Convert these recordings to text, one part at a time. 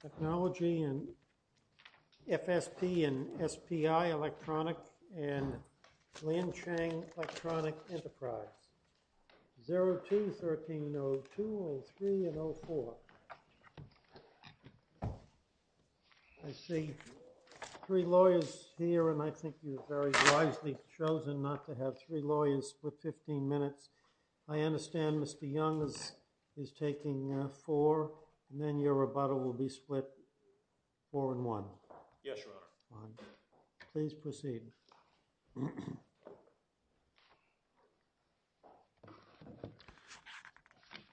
Technology and FSP and SPI Electronic and Liancheng Electronic Enterprise, 02, 13, 02, 03 and 04. I see three lawyers here and I think you have very wisely chosen not to have three lawyers for 15 minutes. I understand Mr. Young is taking four and then your rebuttal will be split four and one. Yes, Your Honor. Please proceed.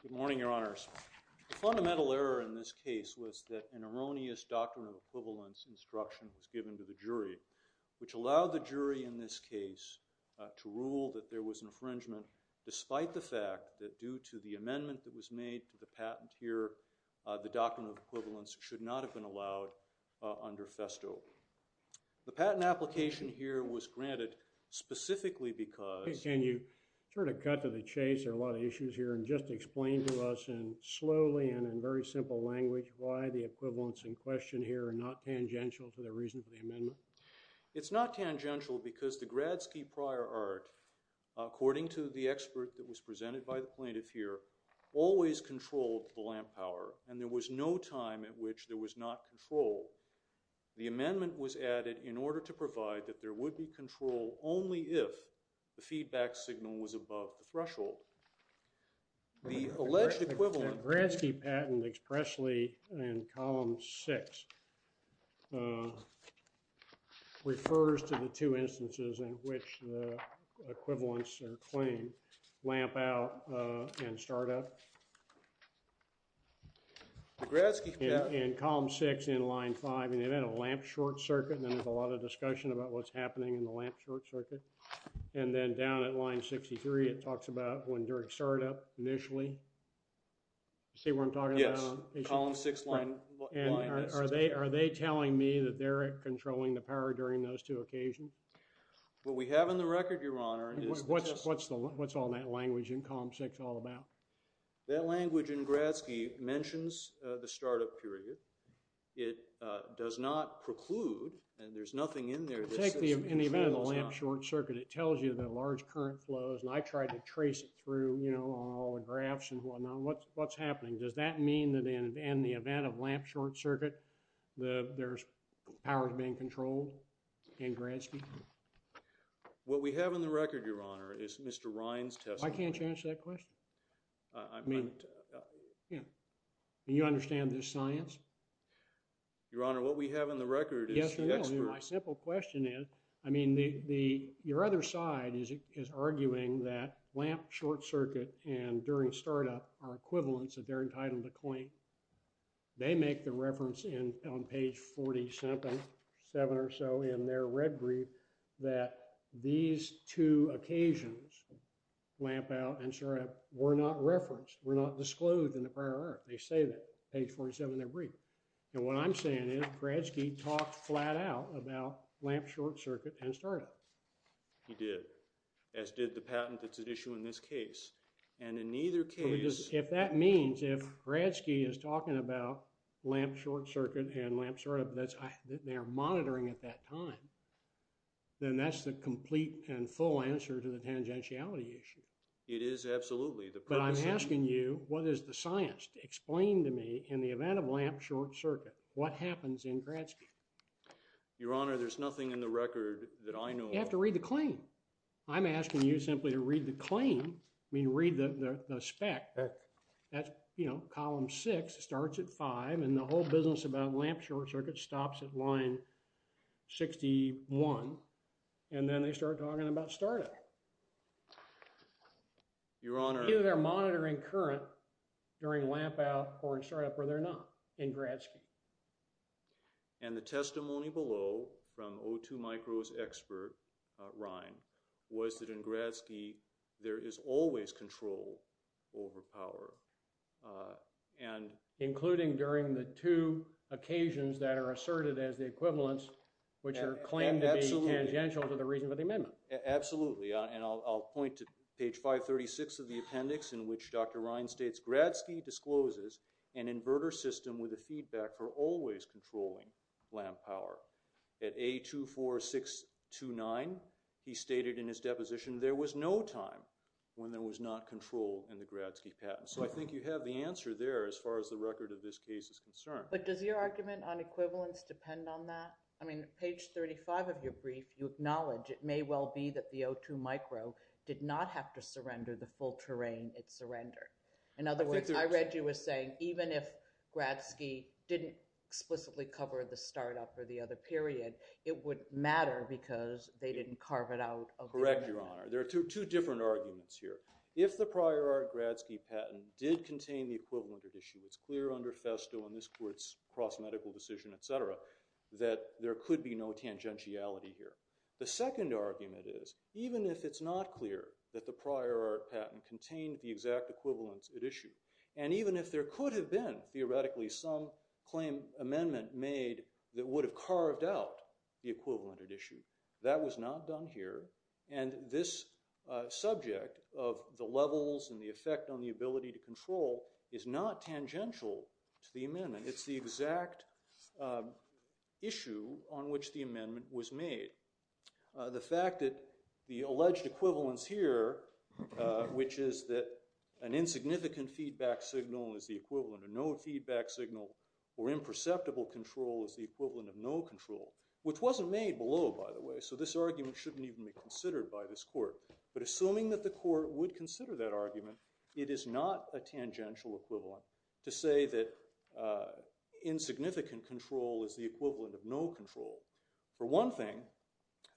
Good morning, Your Honors. The fundamental error in this case was that an erroneous doctrine of equivalence instruction was given to the jury, which allowed the jury in this case to rule that there was infringement, despite the fact that due to the amendment that was made to the patent here, the doctrine of equivalence should not have been allowed under FESTO. The patent application here was granted specifically because… Can you sort of cut to the chase? There are a lot of issues here and just explain to us in slowly and in very simple language why the equivalence in question here are not tangential to the reason for the amendment. It's not tangential because the Gradsky prior art, according to the expert that was presented by the plaintiff here, always controlled the lamp power and there was no time at which there was not control. The amendment was added in order to provide that there would be control only if the feedback signal was above the threshold. The alleged equivalent… The Gradsky patent expressly in Column 6 refers to the two instances in which the equivalents are claimed, lamp out and start up. The Gradsky patent… In Column 6 in Line 5 and they've had a lamp short circuit and there's a lot of discussion about what's happening in the lamp short circuit. And then down at Line 63 it talks about when during start up initially. See what I'm talking about? Yes, Column 6 Line 6. And are they telling me that they're controlling the power during those two occasions? What we have in the record, Your Honor, is… What's all that language in Column 6 all about? That language in Gradsky mentions the start up period. It does not preclude and there's nothing in there that says… In the event of a lamp short circuit, it tells you the large current flows and I tried to trace it through, you know, all the graphs and whatnot. What's happening? Does that mean that in the event of lamp short circuit, there's power being controlled in Gradsky? What we have in the record, Your Honor, is Mr. Ryan's testimony. I can't answer that question. I mean… Do you understand this science? Your Honor, what we have in the record is experts… My simple question is, I mean, your other side is arguing that lamp short circuit and during start up are equivalents that they're entitled to claim. They make the reference on page 47 or so in their red brief that these two occasions, lamp out and start up, were not referenced, were not disclosed in the prior order. Page 47 of their brief. And what I'm saying is Gradsky talked flat out about lamp short circuit and start up. He did. As did the patent that's at issue in this case. And in either case… If that means, if Gradsky is talking about lamp short circuit and lamp start up, that they're monitoring at that time, then that's the complete and full answer to the tangentiality issue. It is absolutely. But I'm asking you, what is the science? Explain to me, in the event of lamp short circuit, what happens in Gradsky? Your Honor, there's nothing in the record that I know of. You have to read the claim. I'm asking you simply to read the claim. I mean, read the spec. That's, you know, column 6 starts at 5 and the whole business about lamp short circuit stops at line 61 and then they start talking about start up. Your Honor… Either they're monitoring current during lamp out or in start up or they're not in Gradsky. And the testimony below from O2 Micro's expert, Ryan, was that in Gradsky there is always control over power and… Including during the two occasions that are asserted as the equivalents, which are claimed to be tangential to the reason for the amendment. Absolutely. And I'll point to page 536 of the appendix in which Dr. Ryan states, Gradsky discloses an inverter system with a feedback for always controlling lamp power. At A24629, he stated in his deposition, there was no time when there was not control in the Gradsky patent. So I think you have the answer there as far as the record of this case is concerned. But does your argument on equivalence depend on that? I mean, page 35 of your brief, you acknowledge it may well be that the O2 Micro did not have to surrender the full terrain it surrendered. In other words, I read you as saying, even if Gradsky didn't explicitly cover the start up or the other period, it would matter because they didn't carve it out. Correct, Your Honor. There are two different arguments here. If the prior Gradsky patent did contain the equivalent issue, it's clear under Festo and this court's cross medical decision, et cetera, that there could be no tangentiality here. The second argument is, even if it's not clear that the prior art patent contained the exact equivalence at issue, and even if there could have been theoretically some claim amendment made that would have carved out the equivalent at issue, that was not done here. And this subject of the levels and the effect on the ability to control is not tangential to the amendment. It's the exact issue on which the amendment was made. The fact that the alleged equivalence here, which is that an insignificant feedback signal is the equivalent of no feedback signal, or imperceptible control is the equivalent of no control, which wasn't made below, by the way, so this argument shouldn't even be considered by this court. But assuming that the court would consider that argument, it is not a tangential equivalent to say that insignificant control is the equivalent of no control. For one thing,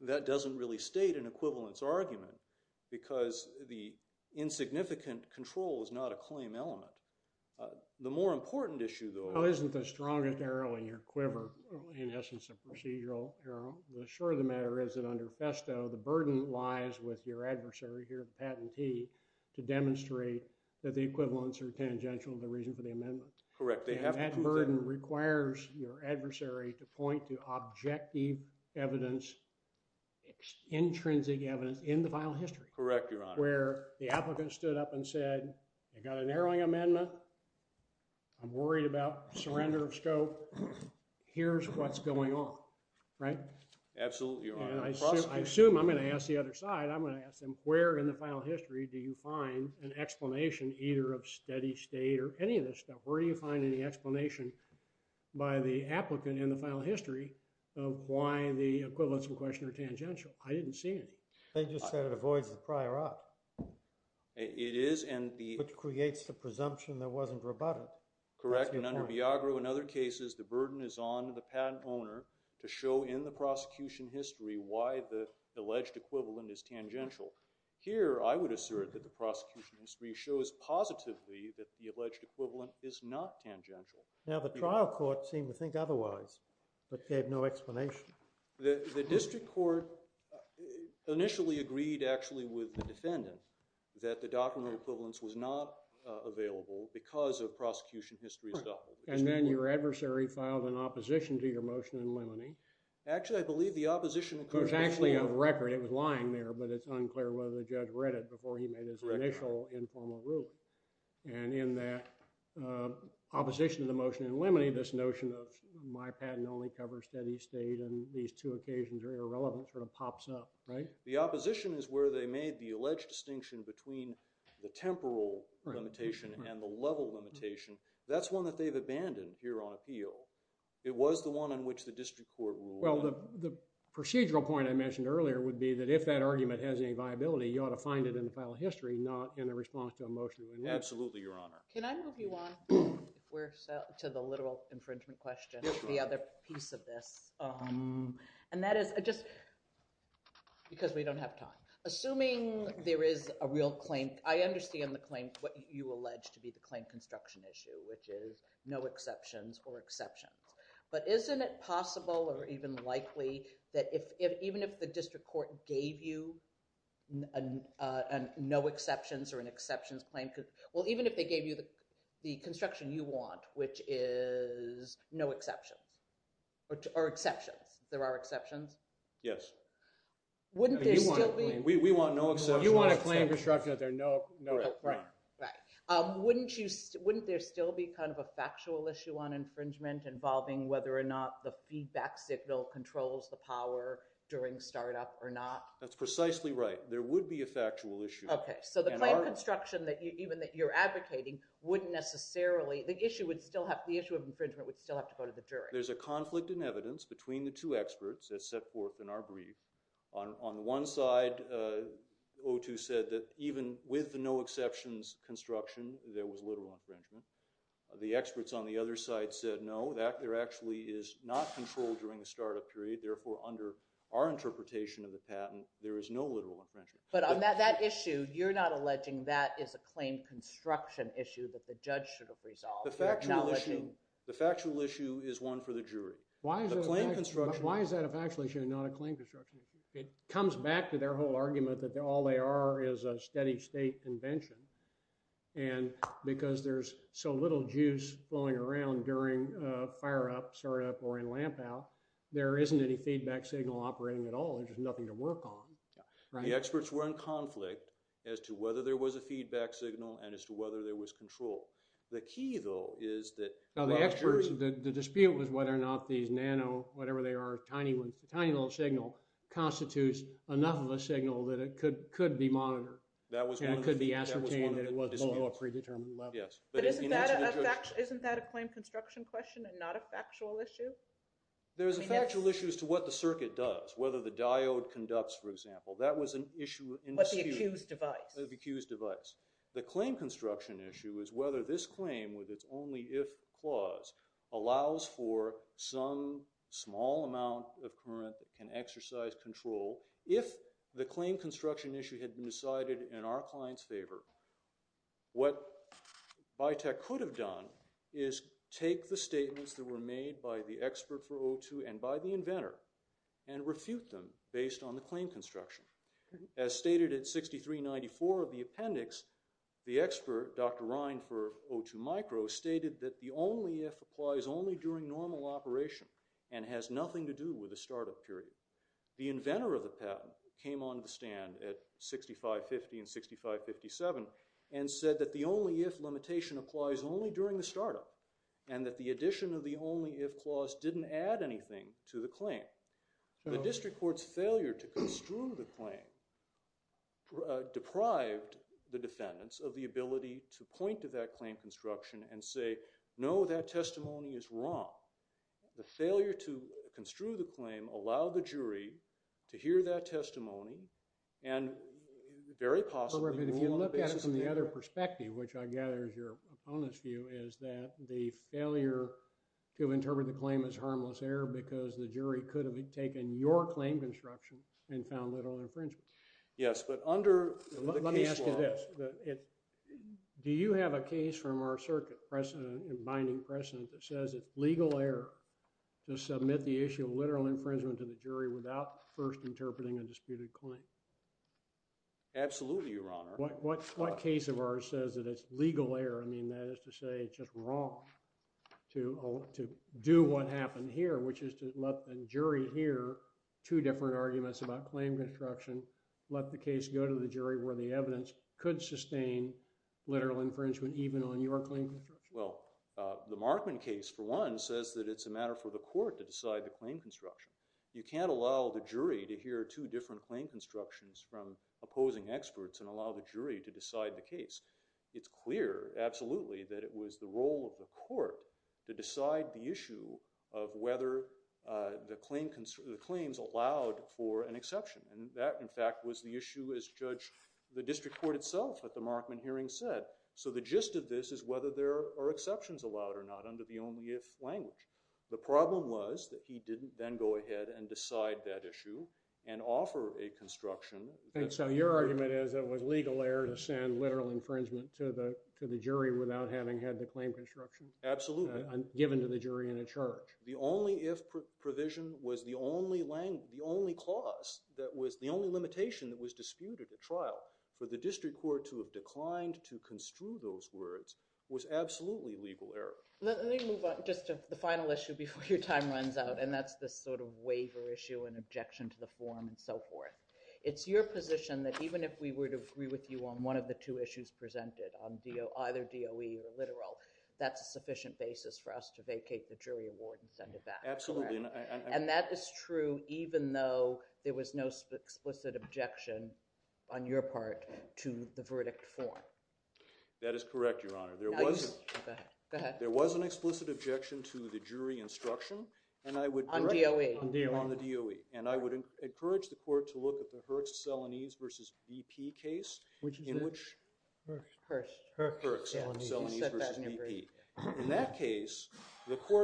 that doesn't really state an equivalence argument because the insignificant control is not a claim element. The more important issue, though- Isn't the strongest arrow in your quiver, in essence, a procedural arrow? Sure, the matter is that under Festo, the burden lies with your adversary, your patentee, to demonstrate that the equivalence are tangential to the reason for the amendment. Correct. That burden requires your adversary to point to objective evidence, intrinsic evidence, in the final history. Correct, Your Honor. Where the applicant stood up and said, I got a narrowing amendment, I'm worried about surrender of scope, here's what's going on. Right? Absolutely, Your Honor. I assume I'm going to ask the other side, I'm going to ask them, where in the final history do you find an explanation, either of steady state or any of this stuff? Where do you find any explanation by the applicant in the final history of why the equivalence in question are tangential? I didn't see any. They just said it avoids the prior op. It is, and the- Which creates the presumption that it wasn't rebutted. Correct, and under Biagro, in other cases, the burden is on the patent owner to show in the prosecution history why the alleged equivalent is tangential. Here, I would assert that the prosecution history shows positively that the alleged equivalent is not tangential. Now, the trial court seemed to think otherwise, but they have no explanation. The district court initially agreed, actually, with the defendant that the document of equivalence was not available because of prosecution history's- And then your adversary filed an opposition to your motion in limine. Actually, I believe the opposition- There's actually a record. It was lying there, but it's unclear whether the judge read it before he made his initial informal ruling. And in that opposition to the motion in limine, this notion of my patent only covers steady state and these two occasions are irrelevant sort of pops up, right? The opposition is where they made the alleged distinction between the temporal limitation and the level limitation. That's one that they've abandoned here on appeal. It was the one on which the district court ruled. Well, the procedural point I mentioned earlier would be that if that argument has any viability, you ought to find it in the final history, not in the response to a motion in limine. Absolutely, Your Honor. Can I move you on to the literal infringement question, the other piece of this? And that is just because we don't have time. Assuming there is a real claim, I understand the claim, what you allege to be the claim construction issue, which is no exceptions or exceptions. But isn't it possible or even likely that even if the district court gave you no exceptions or an exceptions claim, well, even if they gave you the construction you want, which is no exceptions or exceptions, there are exceptions? Yes. We want no exceptions. You want a claim construction that there are no exceptions. Wouldn't there still be kind of a factual issue on infringement involving whether or not the feedback signal controls the power during startup or not? That's precisely right. There would be a factual issue. So the claim construction, even that you're advocating, wouldn't necessarily, the issue of infringement would still have to go to the jury. There's a conflict in evidence between the two experts as set forth in our brief. On one side, O2 said that even with no exceptions construction, there was literal infringement. The experts on the other side said no, there actually is not control during the startup period. Therefore, under our interpretation of the patent, there is no literal infringement. But on that issue, you're not alleging that is a claim construction issue that the judge should have resolved? The factual issue is one for the jury. The claim construction. Why is that a factual issue and not a claim construction issue? It comes back to their whole argument that all they are is a steady state convention. And because there's so little juice flowing around during fire up, startup, or in lamp out, there isn't any feedback signal operating at all. There's just nothing to work on. The experts were in conflict as to whether there was a feedback signal and as to whether there was control. The key, though, is that... The dispute was whether or not these nano, whatever they are, tiny little signal, constitutes enough of a signal that it could be monitored and it could be ascertained that it wasn't below a predetermined level. But isn't that a claim construction question and not a factual issue? There's a factual issue as to what the circuit does, whether the diode conducts, for example. That was an issue... But the accused device. The accused device. The claim construction issue is whether this claim, with its only if clause, allows for some small amount of current that can exercise control. If the claim construction issue had been decided in our client's favor, what Biotech could have done is take the statements that were made by the expert for O2 and by the inventor and refute them based on the claim construction. As stated in 6394 of the appendix, the expert, Dr. Ryan for O2 Micro, stated that the only if applies only during normal operation and has nothing to do with the startup period. The inventor of the patent came on the stand at 6550 and 6557 and said that the only if limitation applies only during the startup and that the addition of the only if clause didn't add anything to the claim. The district court's failure to construe the claim deprived the defendants of the ability to point to that claim construction and say, no, that testimony is wrong. The failure to construe the claim allowed the jury to hear that testimony and very possibly rule on the basis of that. But if you look at it from the other perspective, which I gather is your opponent's view, is that the failure to interpret the claim as harmless error because the jury could have taken your claim construction and found literal infringement. Yes, but under the case law. Let me ask you this. Do you have a case from our circuit binding precedent that says it's legal error to submit the issue of literal infringement to the jury without first interpreting a disputed claim? Absolutely, Your Honor. What case of ours says that it's legal error? I mean, that is to say it's just wrong to do what happened here, which is to let the jury hear two different arguments about claim construction, let the case go to the jury where the evidence could sustain literal infringement even on your claim construction. Well, the Markman case, for one, says that it's a matter for the court to decide the claim construction. You can't allow the jury to hear two different claim constructions from opposing experts and allow the jury to decide the case. It's clear, absolutely, that it was the role of the court to decide the issue of whether the claims allowed for an exception. And that, in fact, was the issue, as the district court itself at the Markman hearing said. So the gist of this is whether there are exceptions allowed or not under the only if language. The problem was that he didn't then go ahead and decide that issue and offer a construction. And so your argument is it was legal error to send literal infringement to the jury without having had the claim construction? Absolutely. Given to the jury in a church. The only if provision was the only clause that was the only limitation that was disputed at trial. For the district court to have declined to construe those words was absolutely legal error. Let me move on just to the final issue before your time runs out. And that's this sort of waiver issue and objection to the form and so forth. It's your position that even if we were to agree with you on one of the two issues presented, on either DOE or literal, that's a sufficient basis for us to vacate the jury award and send it back. Absolutely. And that is true even though there was no explicit objection on your part to the verdict form. That is correct, Your Honor. Go ahead. There was an explicit objection to the jury instruction. On DOE. On the DOE. And I would encourage the court to look at the Herxcellanese versus BP case, in which Herxcellanese versus BP. In that case,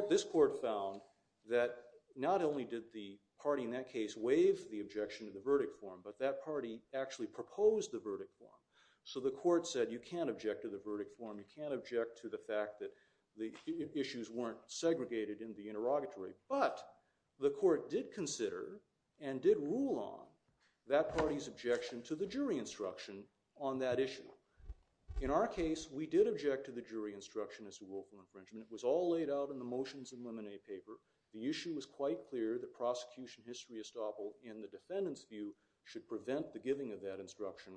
this court found that not only did the party in that case waive the objection to the verdict form, but that party actually proposed the verdict form. So the court said, you can't object to the verdict form. You can't object to the fact that the issues weren't segregated in the interrogatory. But the court did consider and did rule on that party's objection to the jury instruction on that issue. In our case, we did object to the jury instruction as to willful infringement. It was all laid out in the motions and lemonade paper. The issue was quite clear that prosecution history estoppel in the defendant's view should prevent the giving of that instruction.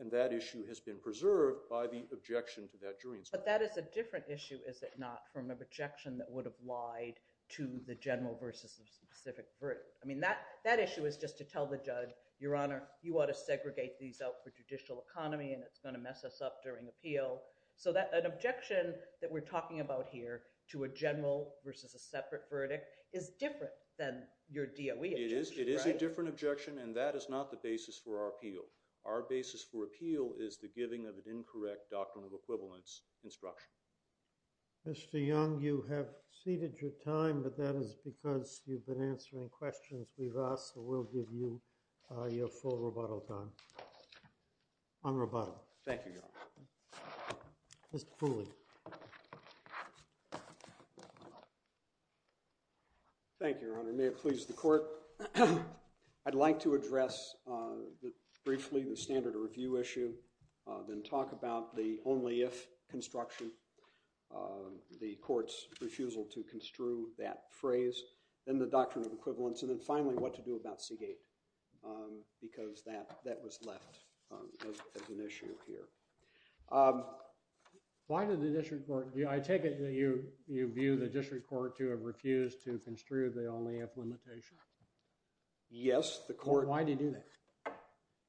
And that issue has been preserved by the objection to that jury instruction. But that is a different issue, is it not, from an objection that would have lied to the general versus the specific verdict. That issue is just to tell the judge, your honor, you ought to segregate these out for judicial economy. And it's going to mess us up during appeal. So an objection that we're talking about here to a general versus a separate verdict is different than your DOE objection, right? It is a different objection. And that is not the basis for our appeal. Our basis for appeal is the giving of an incorrect doctrine of equivalence instruction. Mr. Young, you have ceded your time. But that is because you've been answering questions we've asked. So we'll give you your full rebuttal time on rebuttal. Thank you, your honor. Mr. Foley. Thank you, your honor. May it please the court. I'd like to address briefly the standard of review issue, then talk about the only if construction, the court's refusal to construe that phrase, then the doctrine of equivalence, and then finally what to do about Seagate. Because that was left as an issue here. Why did the district court, I take it that you view the district court to have refused to construe the only if limitation? Yes, the court. Why did you do that?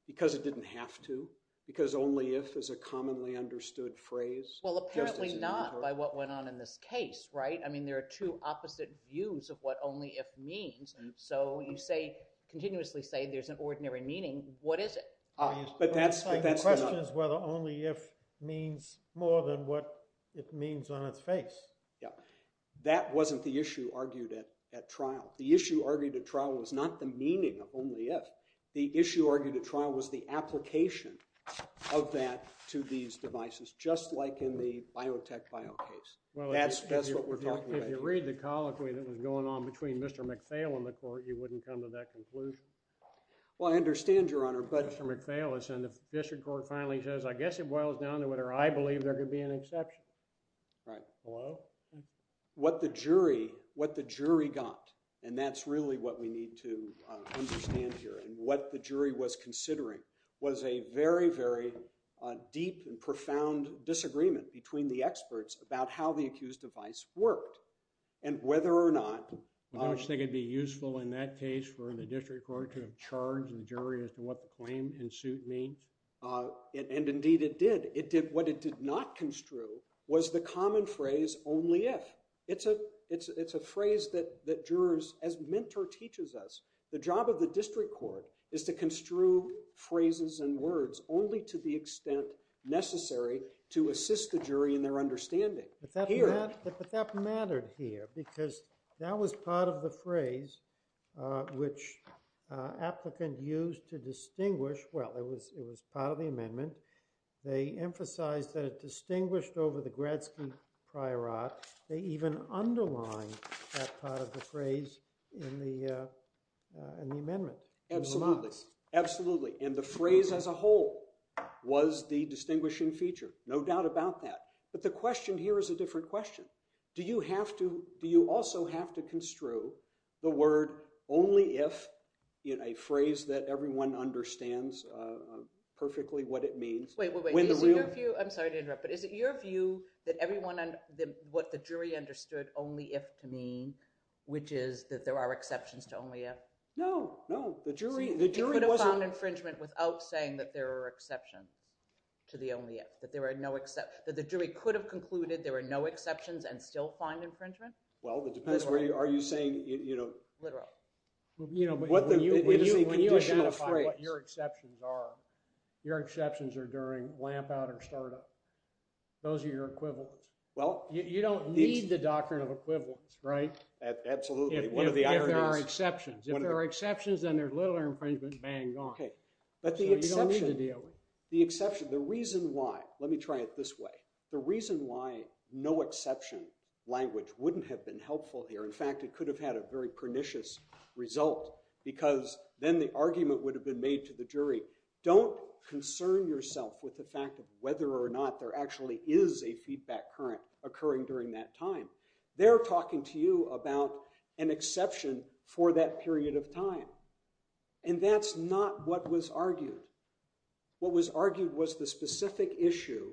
Because it didn't have to. Because only if is a commonly understood phrase. Well, apparently not by what went on in this case, right? I mean, there are two opposite views of what only if means. So you continuously say there's an ordinary meaning. What is it? But that's not. The question is whether only if means more than what it means on its face. That wasn't the issue argued at trial. The issue argued at trial was not the meaning of only if. The issue argued at trial was the application of that to these devices. Just like in the biotech bio case. That's what we're talking about. If you read the colloquy that was going on between Mr. McPhail and the court, you wouldn't come to that conclusion. Well, I understand, Your Honor. But Mr. McPhail has said the district court finally says, I guess it boils down to whether I believe there could be an exception. Right. Hello? What the jury got. And that's really what we need to understand here. And what the jury was considering was a very, very deep and profound disagreement between the experts about how the accused device worked and whether or not. Don't you think it'd be useful in that case for the district court to have charged the jury as to what the claim in suit means? And indeed, it did. What it did not construe was the common phrase only if. It's a phrase that jurors, as Mentor teaches us, the job of the district court is to construe phrases and words only to the extent necessary to assist the jury in their understanding. But that mattered here because that was part of the phrase which applicant used to distinguish. Well, it was part of the amendment. They emphasized that it distinguished over the Gretzky prior art. They even underlined that part of the phrase in the amendment. Absolutely. Absolutely. And the phrase as a whole was the distinguishing feature. No doubt about that. But the question here is a different question. Do you also have to construe the word only if in a phrase that everyone understands perfectly what it means? Wait, wait, wait. Is it your view? I'm sorry to interrupt, but is it your view that what the jury understood only if to mean, which is that there are exceptions to only if? No, no. The jury wasn't. It could have found infringement without saying that there are exceptions to the only if, that the jury could have concluded there were no exceptions and still find infringement? Well, it depends. Are you saying? Literal. When you identify what your exceptions are, your exceptions are during lamp out or start up. Those are your equivalents. You don't need the doctrine of equivalence, right? Absolutely. If there are exceptions. If there are exceptions, then there's little or infringement, bang, gone. You don't need to deal with it. The reason why, let me try it this way. The reason why no exception language wouldn't have been helpful here, in fact, it could have had a very pernicious result, because then the argument would have been made to the jury, don't concern yourself with the fact of whether or not there actually is a feedback current occurring during that time. They're talking to you about an exception for that period of time. And that's not what was argued. What was argued was the specific issue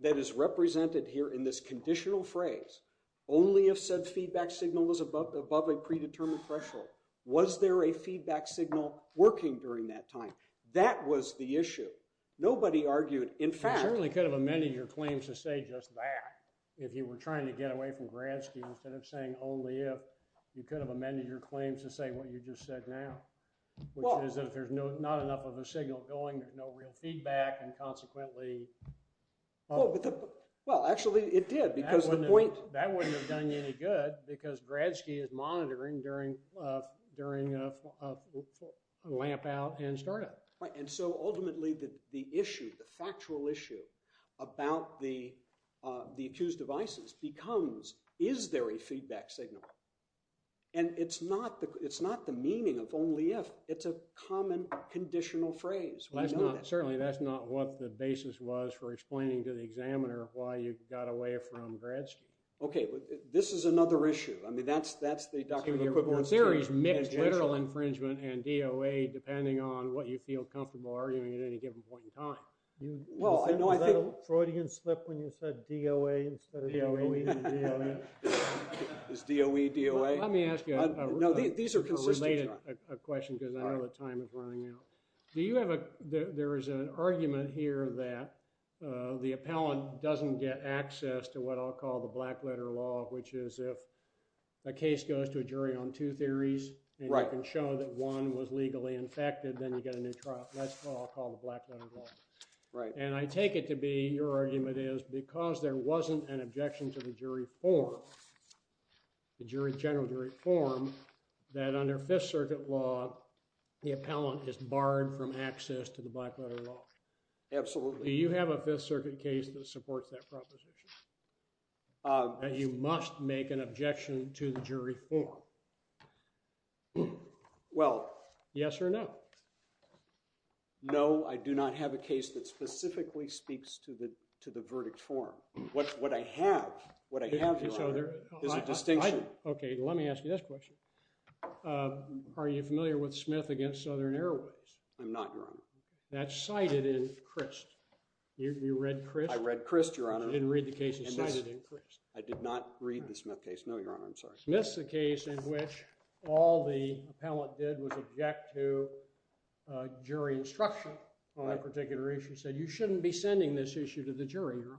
that is represented here in this conditional phrase, only if said feedback signal is above a predetermined threshold. Was there a feedback signal working during that time? That was the issue. Nobody argued, in fact. You certainly could have amended your claims to say just that, if you were trying to get away from Gradsky, instead of saying only if. You could have amended your claims to say what you just said now, which is that there's not enough of a signal going, there's no real feedback, and consequently. Well, actually, it did, because the point. That wouldn't have done you any good, because Gradsky is monitoring during a lamp out and startup. Right. And so ultimately, the issue, the factual issue, about the accused devices becomes, is there a feedback signal? And it's not the meaning of only if. It's a common conditional phrase. Certainly, that's not what the basis was for explaining to the examiner why you got away from Gradsky. OK. This is another issue. I mean, that's the document. Your theory is mixed literal infringement and DOA, depending on what you feel comfortable arguing at any given point in time. Well, I know I think. Is that a Freudian slip when you said DOA instead of DOE? Is DOE DOA? Let me ask you a related question, because I know the time is running out. There is an argument here that the appellant doesn't get a black letter law, which is if a case goes to a jury on two theories and you can show that one was legally infected, then you get a new trial. That's what I'll call the black letter law. Right. And I take it to be, your argument is, because there wasn't an objection to the jury form, the general jury form, that under Fifth Circuit law, the appellant is barred from access to the black letter law. Absolutely. Do you have a Fifth Circuit case that supports that proposition? That you must make an objection to the jury form. Well. Yes or no? No, I do not have a case that specifically speaks to the verdict form. What I have, what I have, Your Honor, is a distinction. OK, let me ask you this question. Are you familiar with Smith v. Southern Airways? I'm not, Your Honor. That's cited in Crist. You read Crist? I read Crist, Your Honor. I didn't read the case. It's cited in Crist. I did not read the Smith case. No, Your Honor. I'm sorry. Smith's the case in which all the appellant did was object to jury instruction on a particular issue. He said, you shouldn't be sending this issue to the jury, Your Honor.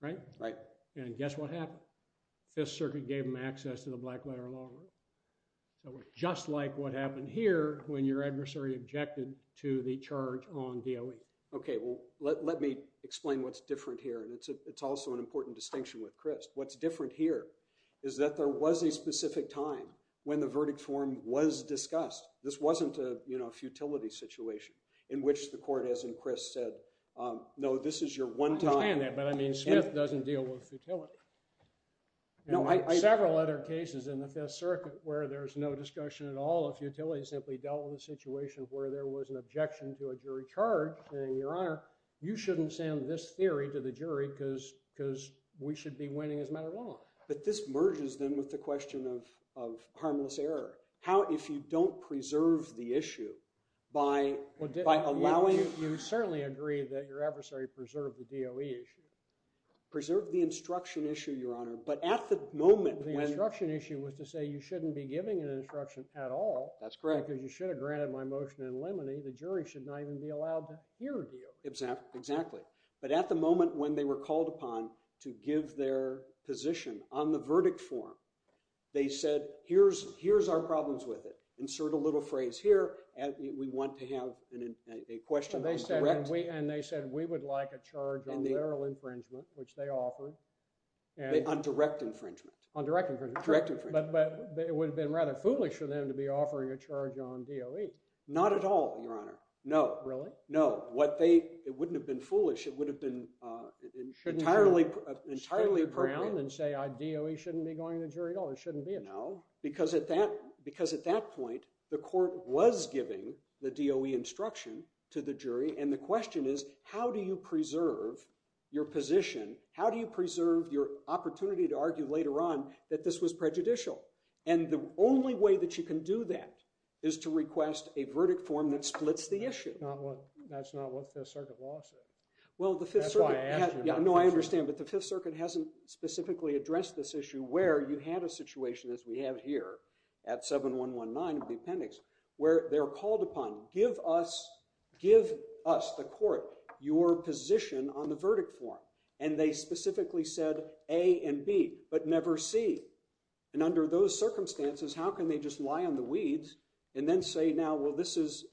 Right? Right. And guess what happened? Fifth Circuit gave him access to the black letter law. So it's just like what happened here when your adversary objected to the charge on DOE. OK, well, let me explain what's different here. And it's also an important distinction with Crist. What's different here is that there was a specific time when the verdict form was discussed. This wasn't a futility situation in which the court, as in Crist, said, no, this is your one time. I understand that. But I mean, Smith doesn't deal with futility. There are several other cases in the Fifth Circuit where there's no discussion at all of futility. It simply dealt with a situation where there was an objection to a jury charge saying, Your Honor, you shouldn't send this theory to the jury because we should be winning as a matter of law. But this merges, then, with the question of harmless error. How, if you don't preserve the issue by allowing it? You certainly agree that your adversary preserved the DOE issue. Preserved the instruction issue, Your Honor. But at the moment when the instruction issue was to say, you shouldn't be giving an instruction at all. That's correct. Because you should have granted my motion in limine. The jury should not even be allowed to hear DOE. Exactly. But at the moment when they were called upon to give their position on the verdict form, they said, here's our problems with it. Insert a little phrase here. And we want to have a question that's direct. And they said, we would like a charge on literal infringement, which they offered. On direct infringement. On direct infringement. Direct infringement. But it would have been rather foolish for them to be offering a charge on DOE. Not at all, Your Honor. No. Really? No. What they, it wouldn't have been foolish. It would have been entirely appropriate. And say, DOE shouldn't be going to jury at all. It shouldn't be at all. No. Because at that point, the court was giving the DOE instruction to the jury. And the question is, how do you preserve your position? How do you preserve your opportunity to argue later on that this was prejudicial? And the only way that you can do that is to request a verdict form that splits the issue. That's not what the Fifth Circuit law says. That's why I asked you. No, I understand. But the Fifth Circuit hasn't specifically addressed this issue where you have a situation, as we have here at 7-119 of the appendix, where they're called upon, give us, the court, your position on the verdict form. And they specifically said A and B, but never C. And under those circumstances, how can they just lie on the weeds and then say, now, well, this is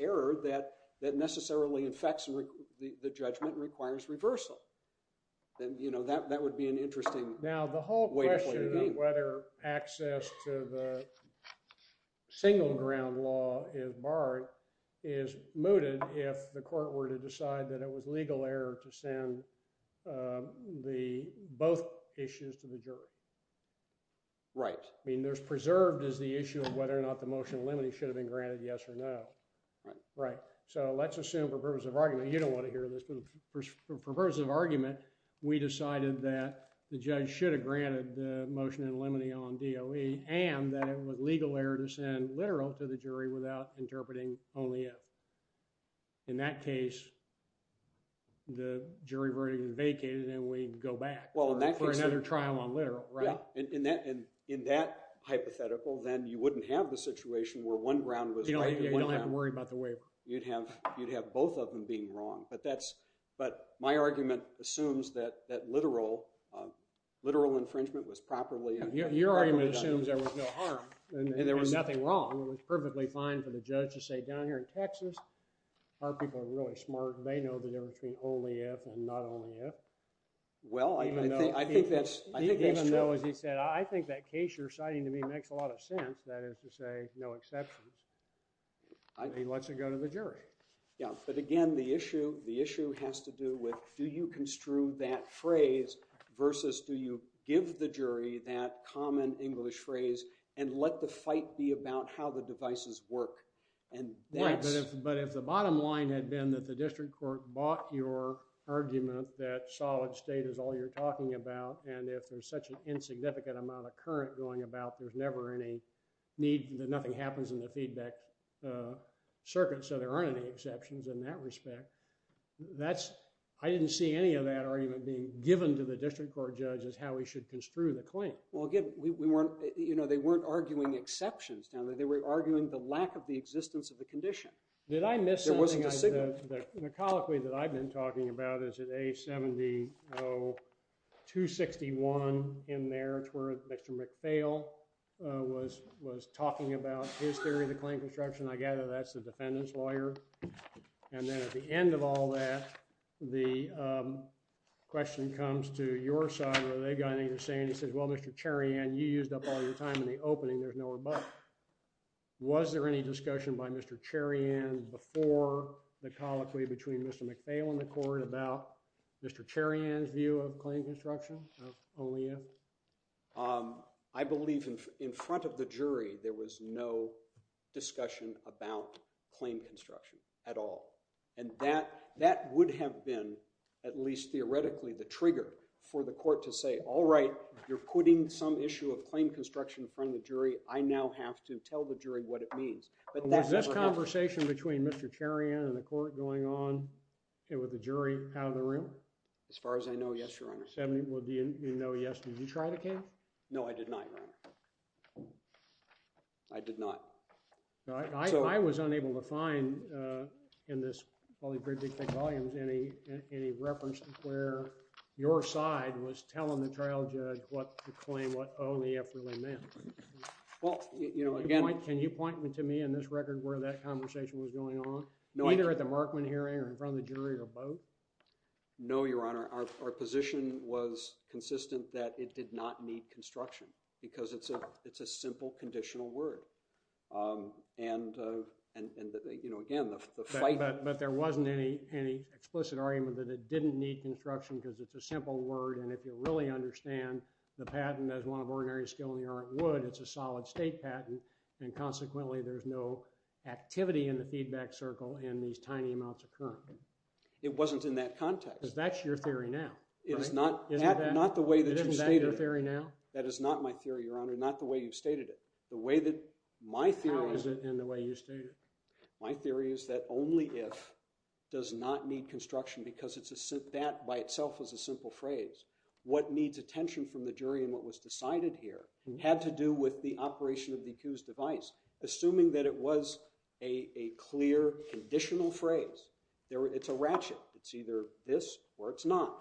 error that necessarily affects the judgment and requires reversal? Then that would be an interesting way to put it. Now, the whole question of whether access to the single ground law is barred is mooted if the court were to decide that it was legal error to send both issues to the jury. Right. I mean, preserved is the issue of whether or not the motion in limine should have been granted yes or no. Right. So let's assume, for purposes of argument, you don't want to hear this, but for purposes of argument, we decided that the judge should have granted the motion in limine on DOE and that it was legal error to send literal to the jury without interpreting only if. In that case, the jury verdict is vacated, and we'd go back for another trial on literal. And in that hypothetical, then you wouldn't have the situation where one ground was right and one down. You don't have to worry about the waiver. You'd have both of them being wrong. But my argument assumes that literal infringement was properly done. Your argument assumes there was no harm and there was nothing wrong. It was perfectly fine for the judge to say, down here in Texas, our people are really smart. They know the difference between only if and not only if. Well, I think that's true. So as he said, I think that case you're citing to me makes a lot of sense. That is to say, no exceptions. He lets it go to the jury. But again, the issue has to do with, do you construe that phrase versus do you give the jury that common English phrase and let the fight be about how the devices work? Right, but if the bottom line had been that the district court bought your argument that solid state is all you're talking about, and if there's such an insignificant amount of current going about, there's never any need that nothing happens in the feedback circuit. So there aren't any exceptions in that respect. That's, I didn't see any of that argument being given to the district court judge as how we should construe the claim. Well, again, we weren't, you know, they weren't arguing exceptions down there. They were arguing the lack of the existence of the condition. Did I miss something? There wasn't a signal. The colloquy that I've been talking about is at A70-261 in there. It's where Mr. McPhail was talking about his theory of the claim construction. I gather that's the defendant's lawyer. And then at the end of all that, the question comes to your side, whether they've got anything to say. And he says, well, Mr. Cherian, you used up all your time in the opening. There's nowhere but. Was there any discussion by Mr. Cherian before the colloquy between Mr. McPhail and the court about Mr. Cherian's view of claim construction of only if? I believe in front of the jury, there was no discussion about claim construction at all. And that would have been, at least theoretically, the trigger for the court to say, all right, you're putting some issue of claim construction in front of the jury. I now have to tell the jury what it means. Was this conversation between Mr. Cherian and the court going on with the jury out of the room? As far as I know, yes, Your Honor. Well, do you know, yes, did you try the case? No, I did not, Your Honor. I did not. I was unable to find, in this probably pretty thick volumes, any reference to where your side was telling the trial judge what the claim, what only if really meant. Can you point to me in this record where that conversation was going on? Either at the Markman hearing or in front of the jury or both? No, Your Honor. Our position was consistent that it did not need construction. Because it's a simple conditional word. And again, the fight. But there wasn't any explicit argument that it didn't need construction because it's a simple word. And if you really understand the patent as one of ordinary skill in the art of wood, it's a solid state patent. And consequently, there's no activity in the feedback circle in these tiny amounts of current. It wasn't in that context. Because that's your theory now, right? Isn't that your theory now? That is not my theory, Your Honor. Not the way you've stated it. How is it in the way you state it? My theory is that only if does not need construction because that by itself is a simple phrase. What needs attention from the jury and what was decided here had to do with the operation of the accused's device. Assuming that it was a clear conditional phrase. It's a ratchet. It's either this or it's not.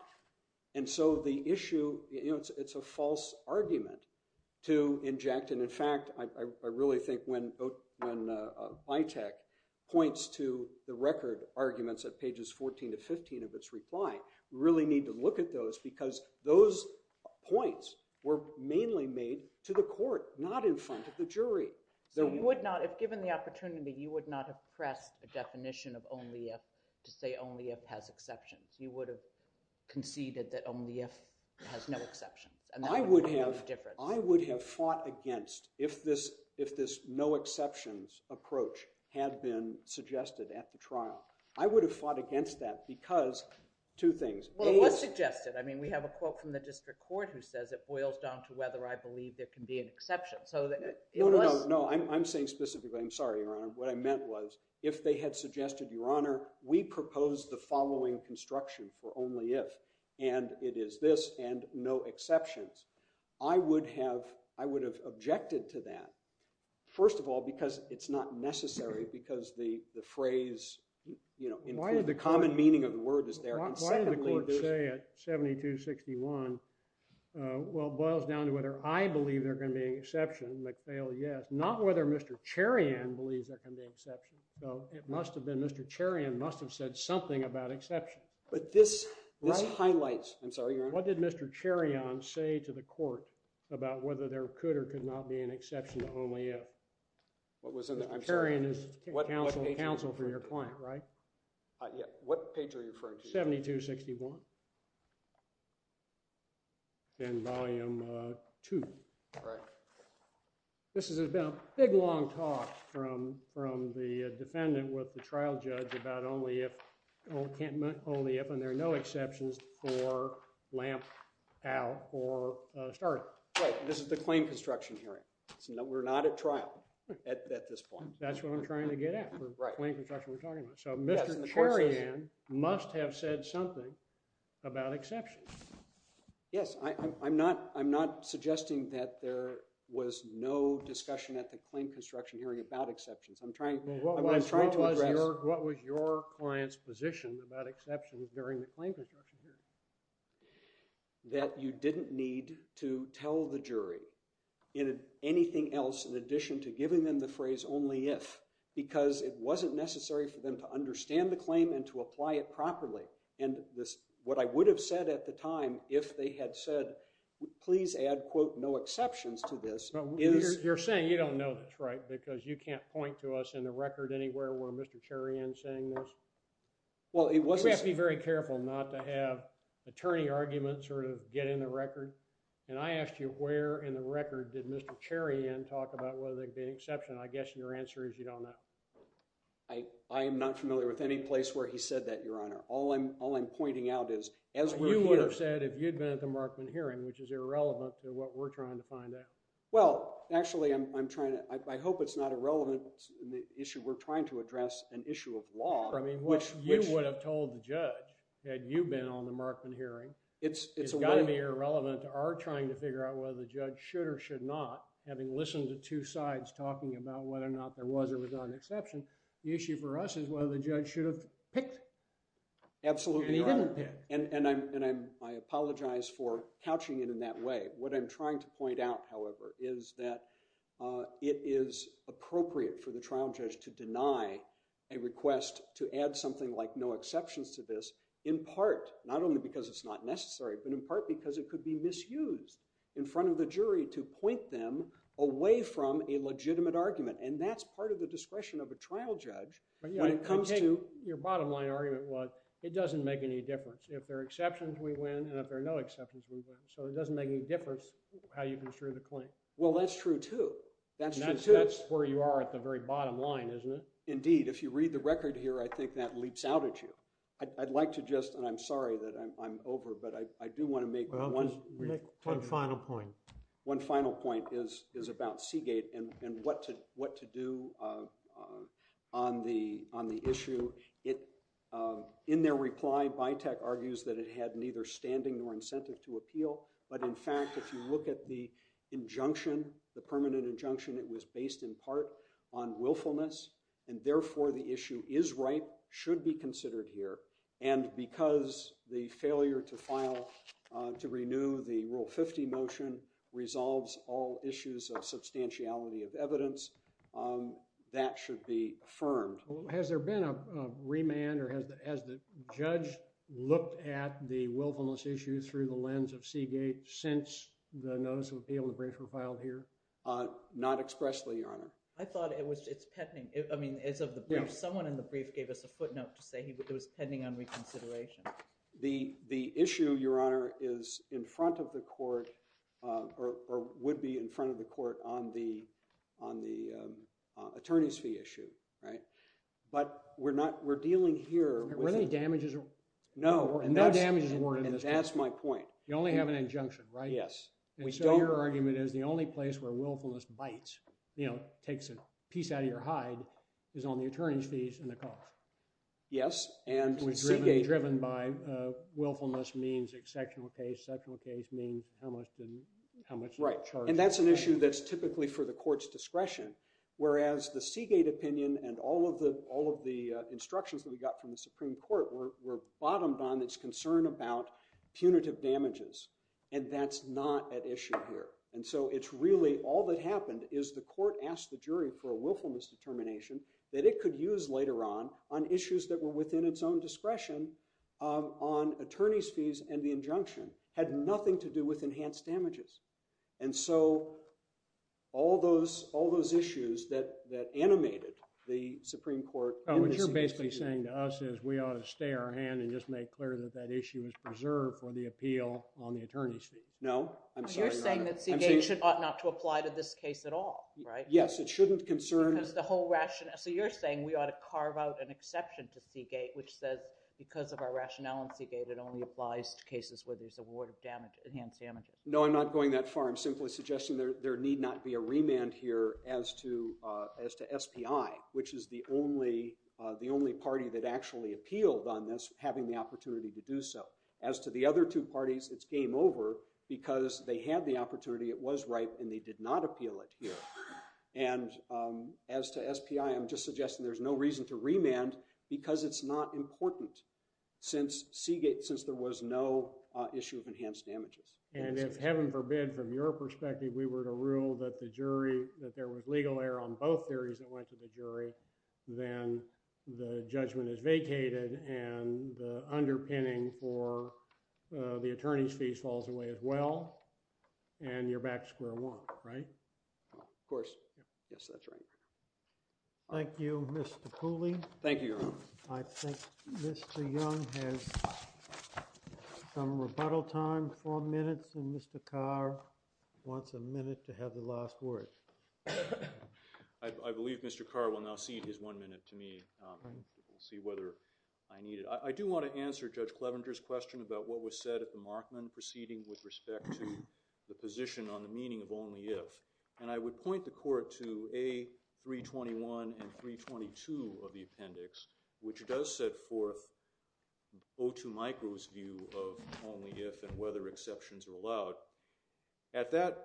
And so the issue, it's a false argument to inject. And in fact, I really think when Bytek points to the record arguments at pages 14 to 15 of its reply, we really need to look at those. Because those points were mainly made to the court, not in front of the jury. So you would not, if given the opportunity, you would not have pressed a definition of only if to say only if has exceptions. You would have conceded that only if has no exceptions. And that would have made a difference. I would have fought against if this no exceptions approach had been suggested at the trial. I would have fought against that because two things. Well, it was suggested. I mean, we have a quote from the district court who says it boils down to whether I believe there can be an exception. So that it was. No, no, no, no. I'm saying specifically, I'm sorry, Your Honor. What I meant was if they had suggested, Your Honor, we propose the following construction for only if. And it is this and no exceptions. I would have objected to that. First of all, because it's not necessary because the phrase includes the common meaning of the word is there. And secondly, there's. Why did the court say it, 7261? Well, it boils down to whether I believe there can be an exception. McPhail, yes. Not whether Mr. Cherian believes there can be exception. So it must have been Mr. Cherian must have said something about exception. But this highlights. I'm sorry, Your Honor. What did Mr. Cherian say to the court about whether there could or could not be an exception to only if? What was in there? Mr. Cherian is counsel for your client, right? Yeah. What page are you referring to? 7261. In volume two. Right. This is a big, long talk from the defendant with the trial judge about only if. Only if. And there are no exceptions for lamp out or start. Right. This is the claim construction hearing. We're not at trial at this point. That's what I'm trying to get at for the claim construction we're talking about. So Mr. Cherian must have said something about exception. Yes. I'm not suggesting that there was no discussion at the claim construction hearing about exceptions. I'm trying to address. What was your client's position about exceptions during the claim construction hearing? That you didn't need to tell the jury anything else in addition to giving them the phrase only if. Because it wasn't necessary for them to understand the claim and to apply it properly. And what I would have said at the time if they had said please add quote no exceptions to this. You're saying you don't know that's right. Because you can't point to us in the record anywhere where Mr. Cherian saying this. Well it was. Be very careful not to have attorney arguments or get in the record. And I asked you where in the record did Mr. Cherian talk about whether they'd be an exception. I guess your answer is you don't know. I am not familiar with any place where he said that your honor. All I'm all I'm pointing out is as you would have said if you'd been at the Markman hearing which is irrelevant to what we're trying to find out. Well actually I'm trying to. I hope it's not a relevant issue. We're trying to address an issue of law. I mean which you would have told the judge had you been on the Markman hearing. It's got to be irrelevant to our trying to figure out whether the judge should or should not. Having listened to two sides talking about whether or not there was or was not an exception. The issue for us is whether the judge should have picked. Absolutely right. And he didn't pick. And I apologize for couching it in that way. What I'm trying to point out however is that it is appropriate for the trial judge to deny a request to add something like no exceptions to this. In part not only because it's not necessary but in part because it could be misused in front of the jury to point them away from a legitimate argument. And that's part of the discretion of a trial judge when it comes to. Your bottom line argument was it doesn't make any difference. If there are exceptions we win and if there are no exceptions we win. So it doesn't make any difference how you construe the claim. Well that's true too. That's where you are at the very bottom line isn't it. Indeed if you read the record here I think that leaps out at you. I'd like to just and I'm sorry that I'm over but I do want to make one final point. One final point is about Seagate and what to do on the issue. In their reply BITEC argues that it had neither standing nor incentive to appeal. But in fact if you look at the injunction, the permanent injunction it was based in part on willfulness and therefore the issue is right, should be considered here. And because the failure to file to renew the Rule 50 motion resolves all issues of substantiality of evidence, that should be affirmed. Has there been a remand or has the judge looked at the willfulness issue through the lens of Seagate since the notice of appeal and the brief were filed here? Not expressly, Your Honor. I thought it was it's pending. I mean as of the brief, someone in the brief gave us a footnote to say it was pending on reconsideration. The issue, Your Honor, is in front of the court or would be in front of the court on the attorney's fee issue. But we're dealing here. Were there any damages? No. No damages were in this case. And that's my point. You only have an injunction, right? Yes. And so your argument is the only place where willfulness BITE takes a piece out of your hide is on the attorney's fees and the cost. Yes. Driven by willfulness means exceptional case. Exceptional case means how much charge. And that's an issue that's typically for the court's discretion. Whereas the Seagate opinion and all of the instructions that we got from the Supreme Court were bottomed on its concern about punitive damages. And that's not at issue here. And so it's really all that happened is the court asked the jury for a willfulness determination that it could use later on on issues that were within its own discretion on attorney's fees and the injunction had nothing to do with enhanced damages. And so all those issues that animated the Supreme Court What you're basically saying to us is we ought to stay our hand and just make clear that that issue is preserved for the appeal on the attorney's fees. No. I'm sorry. You're saying that Seagate ought not to apply to this case at all, right? Yes. It shouldn't concern Because the whole rationale. So you're saying we ought to carve out an exception to Seagate which says because of our rationale in Seagate it only applies to cases where there's a ward of enhanced damages. No. I'm not going that far. I'm simply suggesting there need not be a remand here as to SPI which is the only party that actually appealed on this having the opportunity to do so. As to the other two parties, it's game over because they had the opportunity. It was right and they did not appeal it here. And as to SPI, I'm just suggesting there's no reason to remand because it's not important since Seagate since there was no issue of enhanced damages. And if heaven forbid from your perspective we were to rule that the jury that there was legal error on both theories that went to the jury then the judgment is vacated and the underpinning for the attorney's fees falls away as well. And you're back to square one, right? Of course. Yes, that's right. Thank you, Mr. Cooley. Thank you, Your Honor. I think Mr. Young has some rebuttal time, four minutes. And Mr. Carr wants a minute to have the last word. I believe Mr. Carr will now cede his one minute to me. We'll see whether I need it. I do want to answer Judge Clevenger's question about what was said at the Markman proceeding with respect to the position on the meaning of only if. And I would point the court to A321 and 322 of the appendix, which does set forth O2 micro's view of only if and whether exceptions are allowed. At that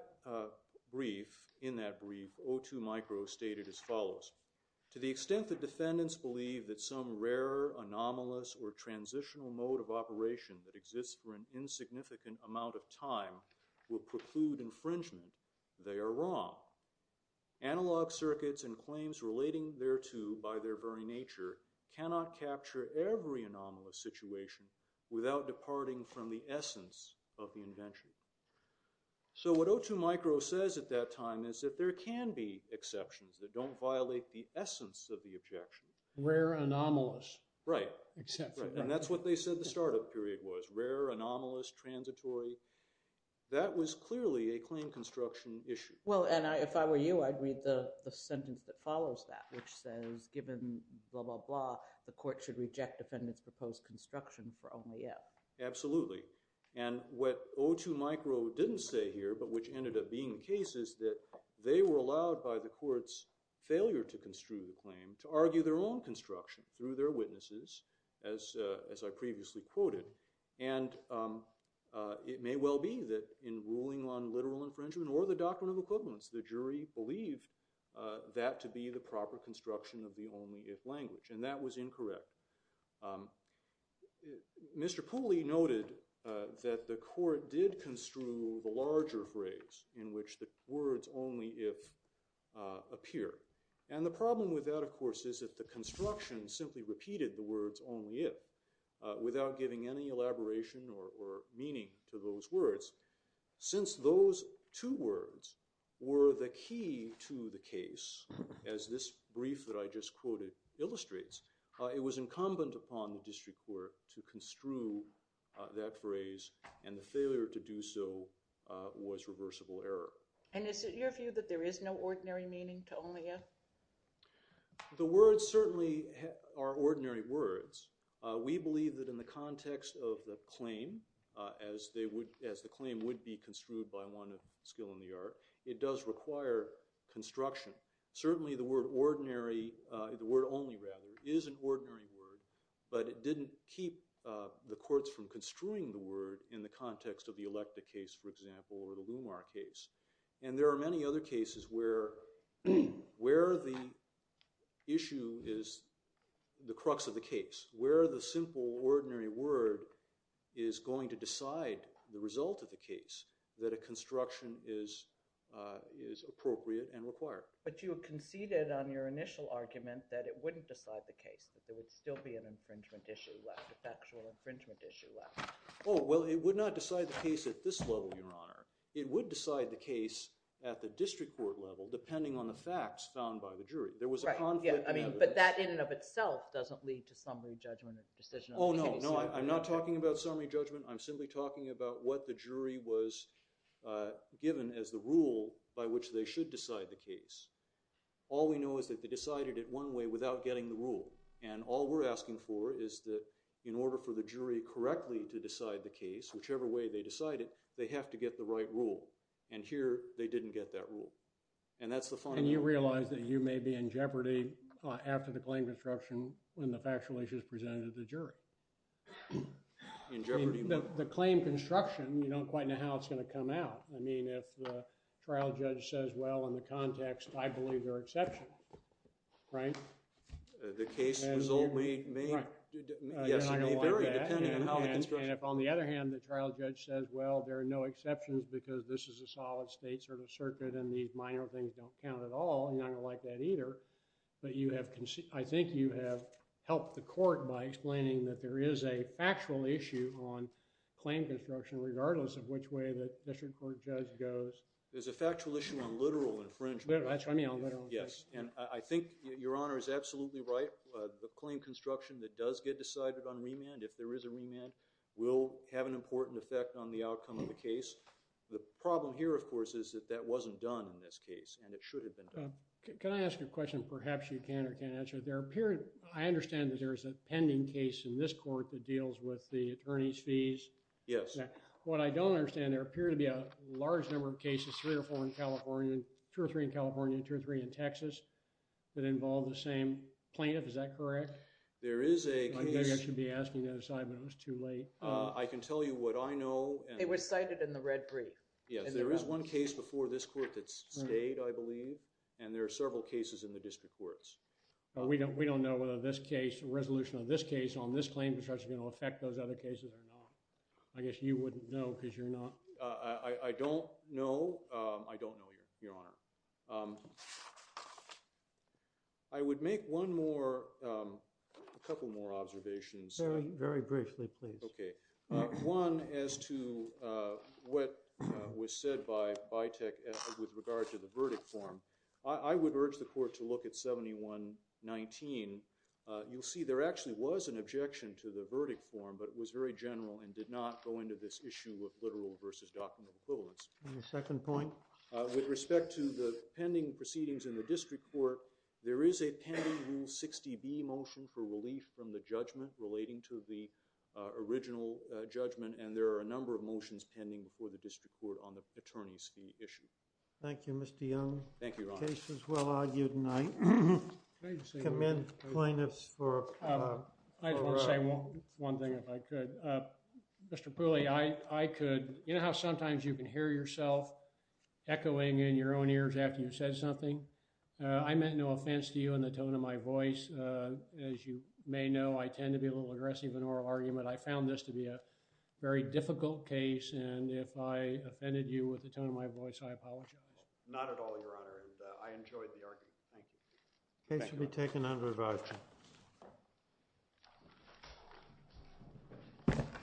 brief, in that brief, O2 micro stated as follows. To the extent that defendants believe that some rare anomalous or transitional mode of operation that exists for an insignificant amount of time will preclude infringement, they are wrong. Analog circuits and claims relating thereto by their very nature cannot capture every anomalous situation without departing from the essence of the invention. So what O2 micro says at that time is that there can be exceptions that don't violate the essence of the objection. Rare anomalous. Right. And that's what they said the startup period was. Rare, anomalous, transitory. That was clearly a claim construction issue. Well, and if I were you, I'd read the sentence that follows that, which says, given blah, blah, blah, the court should reject defendants' proposed construction for only if. Absolutely. And what O2 micro didn't say here, but which ended up being the case, is that they were allowed by the court's failure to construe the claim to argue their own construction through their witnesses, as I previously quoted. And it may well be that in ruling on literal infringement or the doctrine of equivalence, the jury believed that to be the proper construction of the only if language. And that was incorrect. Mr. Pooley noted that the court did construe the larger phrase in which the words only if appear. And the problem with that, of course, is that the construction simply repeated the words only if without giving any elaboration or meaning to those words. Since those two words were the key to the case, as this brief that I just quoted illustrates, it was incumbent upon the district court to construe that phrase. And the failure to do so was reversible error. And is it your view that there is no ordinary meaning to only if? The words certainly are ordinary words. We believe that in the context of the claim, as the claim would be construed by one of skill in the art, it does require construction. Certainly, the word only is an ordinary word. But it didn't keep the courts from construing the word in the context of the Electa case, for example, or the Lumar case. And there are many other cases where the issue is the crux of the case, where the simple ordinary word is going to decide the result of the case that a construction is appropriate and required. But you conceded on your initial argument that it wouldn't decide the case, that there would still be an infringement issue left, a factual infringement issue left. Oh, well, it would not decide the case at this level, Your Honor. It would decide the case at the district court level, depending on the facts found by the jury. There was a conflict. But that, in and of itself, doesn't lead to summary judgment or decision of the case. Oh, no. No, I'm not talking about summary judgment. I'm simply talking about what the jury was given as the rule by which they should decide the case. All we know is that they decided it one way without getting the rule. And all we're asking for is that in order for the jury correctly to decide the case, whichever way they decide it, they have to get the right rule. And here, they didn't get that rule. And that's the fun of it. And you realize that you may be in jeopardy after the claim construction when the factual issue is presented to the jury? In jeopardy? The claim construction, you don't quite know how it's going to come out. I mean, if the trial judge says, well, in the context, I believe they're exceptional, right? The case result may vary depending on how the construction is done. And if, on the other hand, the trial judge says, well, there are no exceptions because this is a solid state sort of circuit and these minor things don't count at all, you're not going to like that either. But I think you have helped the court by explaining that there is a factual issue on claim construction, regardless of which way the district court judge goes. There's a factual issue on literal infringement. That's what I mean, on literal infringement. Yes. And I think your honor is absolutely right. The claim construction that does get decided on remand, if there is a remand, will have an important effect on the outcome of the case. The problem here, of course, is that that wasn't done in this case, and it should have been done. Can I ask a question? Perhaps you can or can't answer it. I understand that there is a pending case in this court that deals with the attorney's fees. Yes. What I don't understand, there appear to be a large number of cases, three or four in California, two or three in California, two or three in Texas, that involve the same plaintiff. Is that correct? There is a case. Maybe I should be asking that aside, but it was too late. I can tell you what I know. It was cited in the red brief. Yes, there is one case before this court that's stayed, I believe. And there are several cases in the district courts. But we don't know whether this case, the resolution of this case on this claim, is actually going to affect those other cases or not. I guess you wouldn't know because you're not. I don't know. I don't know, your honor. I would make one more, a couple more observations. Very, very briefly, please. OK. One as to what was said by Bytec with regard to the verdict form. I would urge the court to look at 7119. You'll see there actually was an objection to the verdict form, but it was very general and did not go into this issue of literal versus document equivalence. And the second point? With respect to the pending proceedings in the district court, there is a pending Rule 60B motion for relief from the judgment relating to the original judgment, and there are a number of motions pending before the district court on the attorney's fee issue. Thank you, Mr. Young. Thank you, your honor. The case was well argued, and I commend plaintiffs for a right. I just want to say one thing, if I could. Mr. Pooley, I could, you know how sometimes you can hear yourself echoing in your own ears after you've said something. I meant no offense to you in the tone of my voice. As you may know, I tend to be a little aggressive in oral argument. I found this to be a very difficult case, and if I offended you with the tone of my voice, I apologize. Not at all, your honor, and I enjoyed the argument. Thank you. The case will be taken under revising.